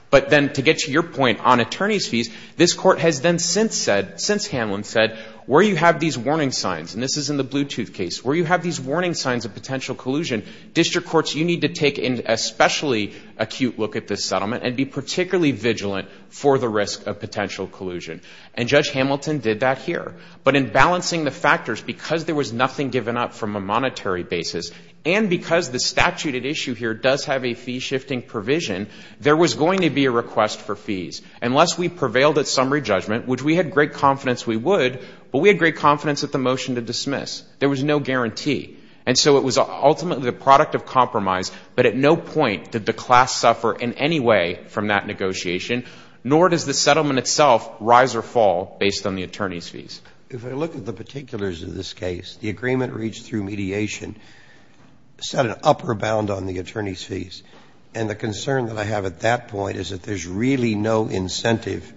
But then to get to your point on attorney's fees, this Court has then since said, since Hanlon said, where you have these warning signs, and this is in the blue tooth case, where you have these warning signs of potential collusion, district courts, you need to take an especially acute look at this settlement and be particularly vigilant for the risk of potential collusion. And Judge Hamilton did that here. But in balancing the factors, because there was nothing given up from a monetary basis, and because the statute at issue here does have a fee-shifting provision, there was going to be a request for fees. Unless we prevailed at summary judgment, which we had great confidence we would, but we had great confidence at the motion to dismiss. There was no guarantee. And so it was ultimately the product of compromise, but at no point did the class suffer in any way from that negotiation, nor does the settlement itself rise or fall based on the attorney's fees. If I look at the particulars of this case, the agreement reached through mediation set an upper bound on the attorney's fees. And the concern that I have at that point is that there's really no incentive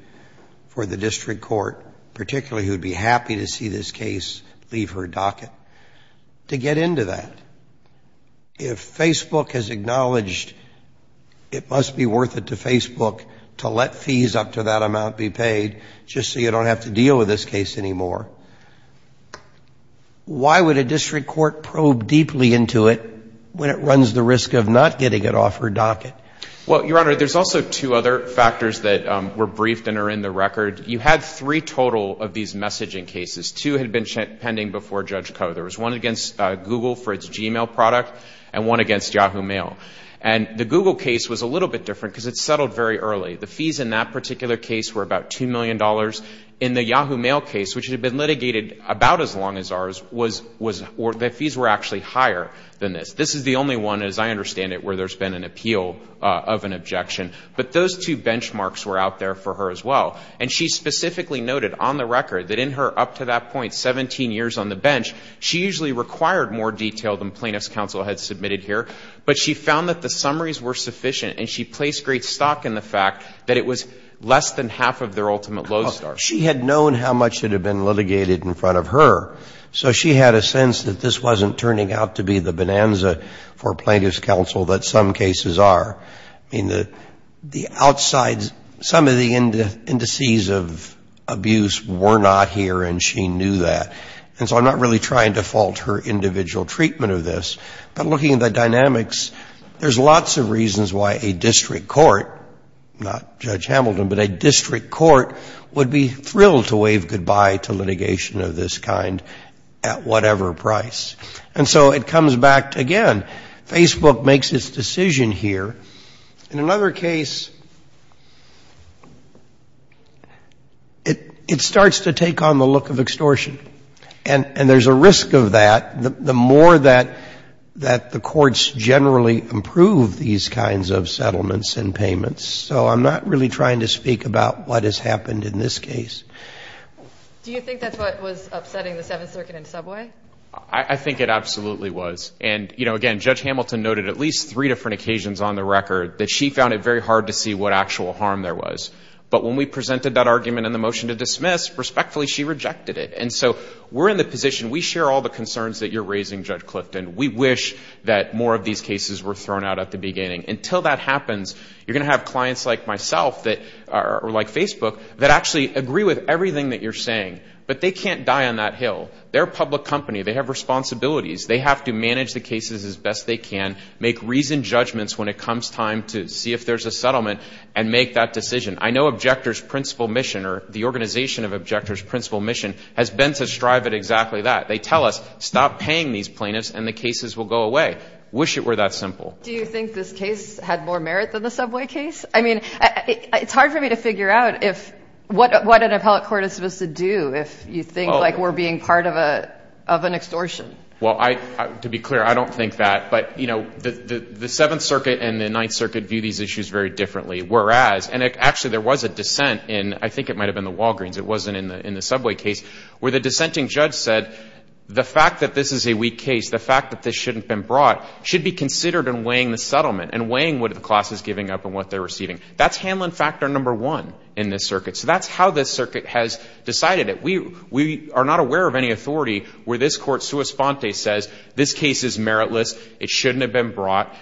for the district court, particularly who would be happy to see this case leave her docket, to get into that. If Facebook has acknowledged it must be worth it to Facebook to let fees up to that amount be paid just so you don't have to deal with this case anymore, why would a district court probe deeply into it when it runs the risk of not getting it off her docket? Well, Your Honor, there's also two other factors that were briefed and are in the record. You had three total of these messaging cases. Two had been pending before Judge Koh. There was one against Google for its Gmail product and one against Yahoo Mail. And the Google case was a little bit different because it settled very early. The fees in that particular case were about $2 million. In the Yahoo Mail case, which had been litigated about as long as ours, the fees were actually higher than this. This is the only one, as I understand it, where there's been an appeal of an objection. But those two benchmarks were out there for her as well. And she specifically noted on the record that in her up-to-that-point 17 years on the bench, she usually required more detail than plaintiff's counsel had submitted here. But she found that the summaries were sufficient and she placed great stock in the fact that it was less than half of their ultimate low start. She had known how much had been litigated in front of her, so she had a sense that this wasn't turning out to be the bonanza for plaintiff's counsel that some cases are. I mean, the outside, some of the indices of abuse were not here and she knew that. And so I'm not really trying to fault her individual treatment of this. But looking at the dynamics, there's lots of reasons why a district court, not Judge Hamilton, but a district court would be thrilled to wave goodbye to litigation of this kind at whatever price. And so it comes back again. Facebook makes its decision here. In another case, it starts to take on the look of extortion. And there's a risk of that, the more that the courts generally approve these kinds of settlements and payments. So I'm not really trying to speak about what has happened in this case. Do you think that's what was upsetting the Seventh Circuit in Subway? I think it absolutely was. And, you know, again, Judge Hamilton noted at least three different occasions on the record that she found it very hard to see what actual harm there was. But when we presented that argument in the motion to dismiss, respectfully, she rejected it. And so we're in the position, we share all the concerns that you're raising, Judge Clifton. We wish that more of these cases were thrown out at the beginning. Until that happens, you're going to have clients like myself that are like But they can't die on that hill. They're a public company. They have responsibilities. They have to manage the cases as best they can, make reasoned judgments when it comes time to see if there's a settlement, and make that decision. I know Objectors' principal mission or the organization of Objectors' principal mission has been to strive at exactly that. They tell us, stop paying these plaintiffs and the cases will go away. Wish it were that simple. Do you think this case had more merit than the Subway case? I mean, it's hard for me to figure out what an appellate court is supposed to do if you think like we're being part of an extortion. Well, to be clear, I don't think that. But the Seventh Circuit and the Ninth Circuit view these issues very differently. Whereas, and actually there was a dissent in, I think it might have been the Walgreens, it wasn't in the Subway case, where the dissenting judge said the fact that this is a weak case, the fact that this shouldn't have been brought, should be considered in weighing the settlement and weighing what the class is giving up and what they're receiving. That's handling factor number one in this circuit. So that's how this circuit has decided it. We are not aware of any authority where this Court sua sponte says this case is meritless, it shouldn't have been brought,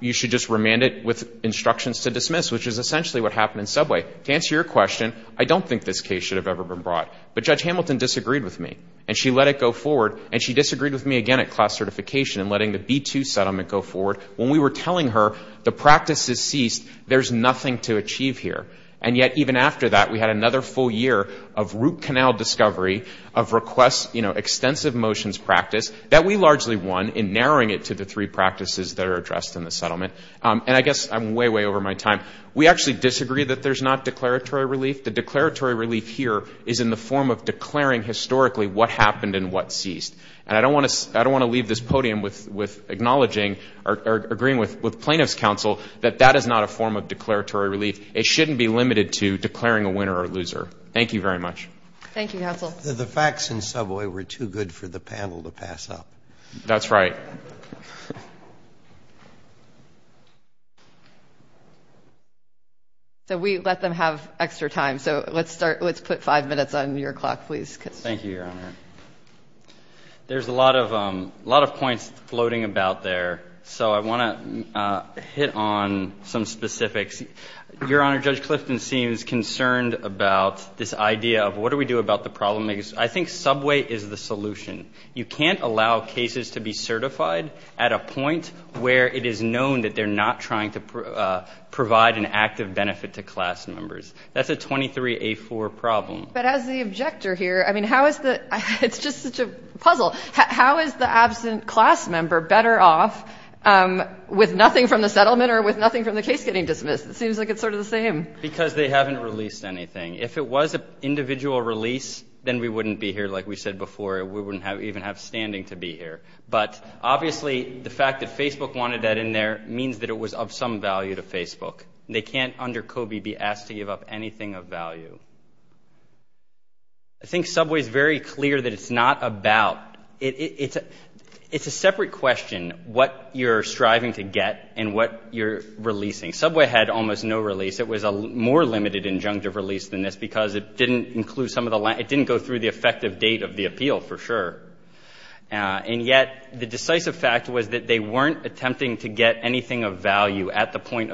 you should just remand it with instructions to dismiss, which is essentially what happened in Subway. To answer your question, I don't think this case should have ever been brought. But Judge Hamilton disagreed with me and she let it go forward and she disagreed with me again at class certification in letting the B-2 settlement go forward when we were telling her the practice is ceased, there's nothing to achieve here. And yet, even after that, we had another full year of root canal discovery of requests, you know, extensive motions practice that we largely won in narrowing it to the three practices that are addressed in the settlement. And I guess I'm way, way over my time. We actually disagree that there's not declaratory relief. The declaratory relief here is in the form of declaring historically what happened and what ceased. And I don't want to leave this podium with acknowledging or agreeing with plaintiff's counsel that that is not a form of declaratory relief. It shouldn't be limited to declaring a winner or loser. Thank you very much. Thank you, counsel. The facts in Subway were too good for the panel to pass up. That's right. So we let them have extra time. So let's start, let's put five minutes on your clock, please. Thank you, Your Honor. There's a lot of points floating about there. So I want to hit on some specifics. Your Honor, Judge Clifton seems concerned about this idea of what do we do about the problem? I think Subway is the solution. You can't allow cases to be certified at a point where it is known that they're not trying to provide an active benefit to class members. That's a 23A4 problem. But as the objector here, I mean, how is the, it's just such a puzzle. How is the absent class member better off with nothing from the settlement or with nothing from the case getting dismissed? It seems like it's sort of the same. Because they haven't released anything. If it was an individual release, then we wouldn't be here, like we said before. We wouldn't even have standing to be here. But obviously, the fact that Facebook wanted that in there means that it was of some value to Facebook. They can't, under COBE, be asked to give up anything of value. I think Subway is very clear that it's not about, it's a separate question, what you're striving to get and what you're releasing. Subway had almost no release. It was a more limited injunctive release than this because it didn't include some of the, it didn't go through the effective date of the appeal for sure. And yet, the decisive fact was that they weren't attempting to get anything of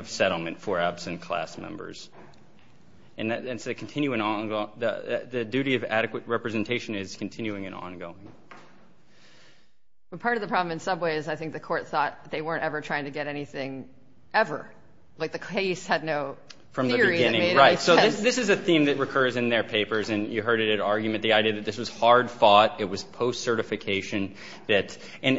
settlement for absent class members. And so the duty of adequate representation is continuing and ongoing. Part of the problem in Subway is I think the court thought they weren't ever trying to get anything ever. Like the case had no theory. Right. So this is a theme that recurs in their papers. And you heard it at argument, the idea that this was hard fought. It was post-certification. And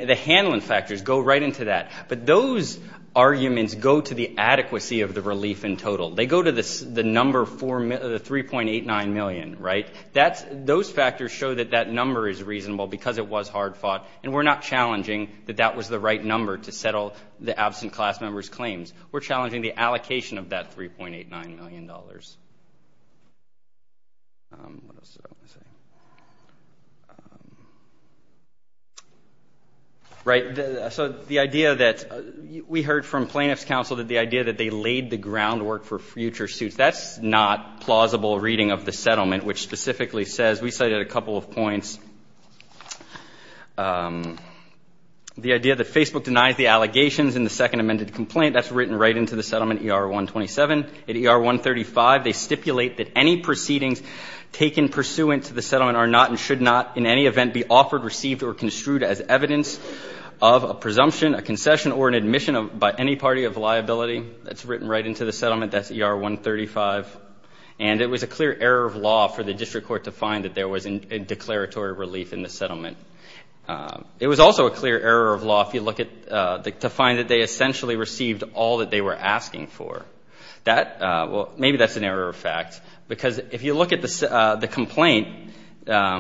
the handling factors go right into that. But those arguments go to the adequacy of the relief in total. They go to the number, the $3.89 million. Right. Those factors show that that number is reasonable because it was hard fought. And we're not challenging that that was the right number to settle the absent class members' claims. We're challenging the allocation of that $3.89 million. Right. So the idea that we heard from plaintiff's counsel that the idea that they laid the groundwork for future suits, that's not plausible reading of the settlement, which specifically says, we cited a couple of points, the idea that Facebook denies the allegations in the second amended complaint. That's written right into the settlement, ER-127. At ER-135, they stipulate that any proceedings taken pursuant to the settlement are not and should not in any event be offered, received, or construed as evidence of a presumption, a concession, or an admission by any party of liability. That's written right into the settlement. That's ER-135. And it was a clear error of law for the district court to find that there was a declaratory relief in the settlement. It was also a clear error of law if you look at, to find that they essentially received all that they were asking for. That, well, maybe that's an error of fact because if you look at the complaint, they're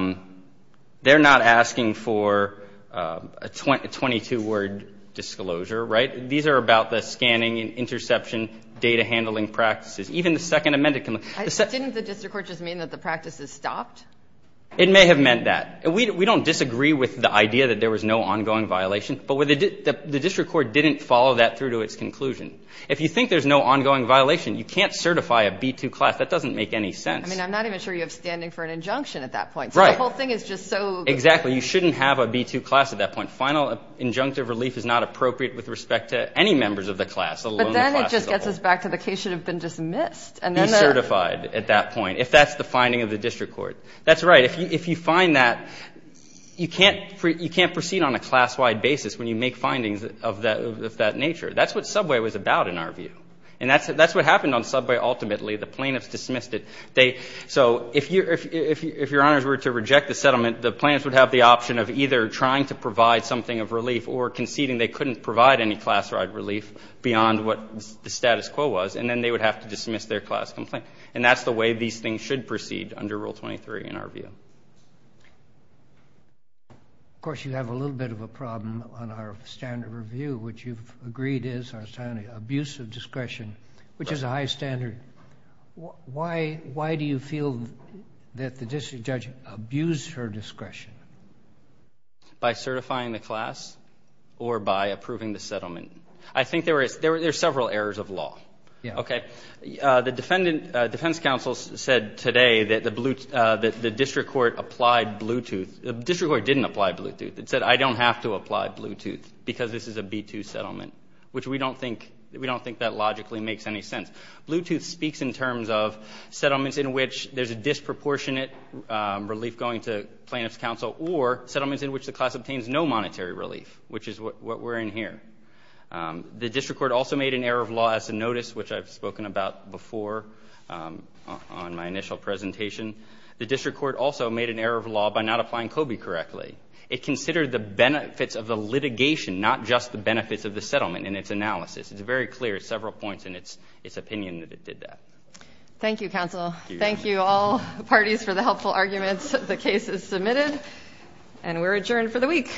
not asking for a 22-word disclosure, right? These are about the scanning and interception data handling practices. Even the second amended complaint. Didn't the district court just mean that the practices stopped? It may have meant that. We don't disagree with the idea that there was no ongoing violation, but the district court didn't follow that through to its conclusion. If you think there's no ongoing violation, you can't certify a B-2 class. That doesn't make any sense. I mean, I'm not even sure you have standing for an injunction at that point. Right. So the whole thing is just so. Exactly. You shouldn't have a B-2 class at that point. Final injunctive relief is not appropriate with respect to any members of the class, let alone the classes. But then it just gets us back to the case should have been dismissed. Be certified at that point if that's the finding of the district court. That's right. If you find that, you can't proceed on a class-wide basis when you make findings of that nature. That's what subway was about in our view. And that's what happened on subway ultimately. The plaintiffs dismissed it. So if your honors were to reject the settlement, the plaintiffs would have the option of either trying to provide something of relief or conceding they couldn't provide any class-wide relief beyond what the status quo was. And then they would have to dismiss their class complaint. And that's the way these things should proceed under Rule 23 in our view. Of course, you have a little bit of a problem on our standard review, which you've agreed is our standard abuse of discretion, which is a high standard. Why do you feel that the district judge abused her discretion? By certifying the class or by approving the settlement? I think there were several errors of law. Yeah. Okay. The defense counsel said today that the district court applied Bluetooth. The district court didn't apply Bluetooth. It said, I don't have to apply Bluetooth because this is a B-2 settlement, which we don't think that logically makes any sense. Bluetooth speaks in terms of settlements in which there's a disproportionate relief going to plaintiff's counsel or settlements in which the class obtains no monetary relief, which is what we're in here. The district court also made an error of law as a notice, which I've spoken about before on my initial presentation. The district court also made an error of law by not applying COBE correctly. It considered the benefits of the litigation, not just the benefits of the settlement in its analysis. It's very clear, several points in its opinion, that it did that. Thank you, counsel. Thank you, all parties, for the helpful arguments. The case is submitted, and we're adjourned for the week.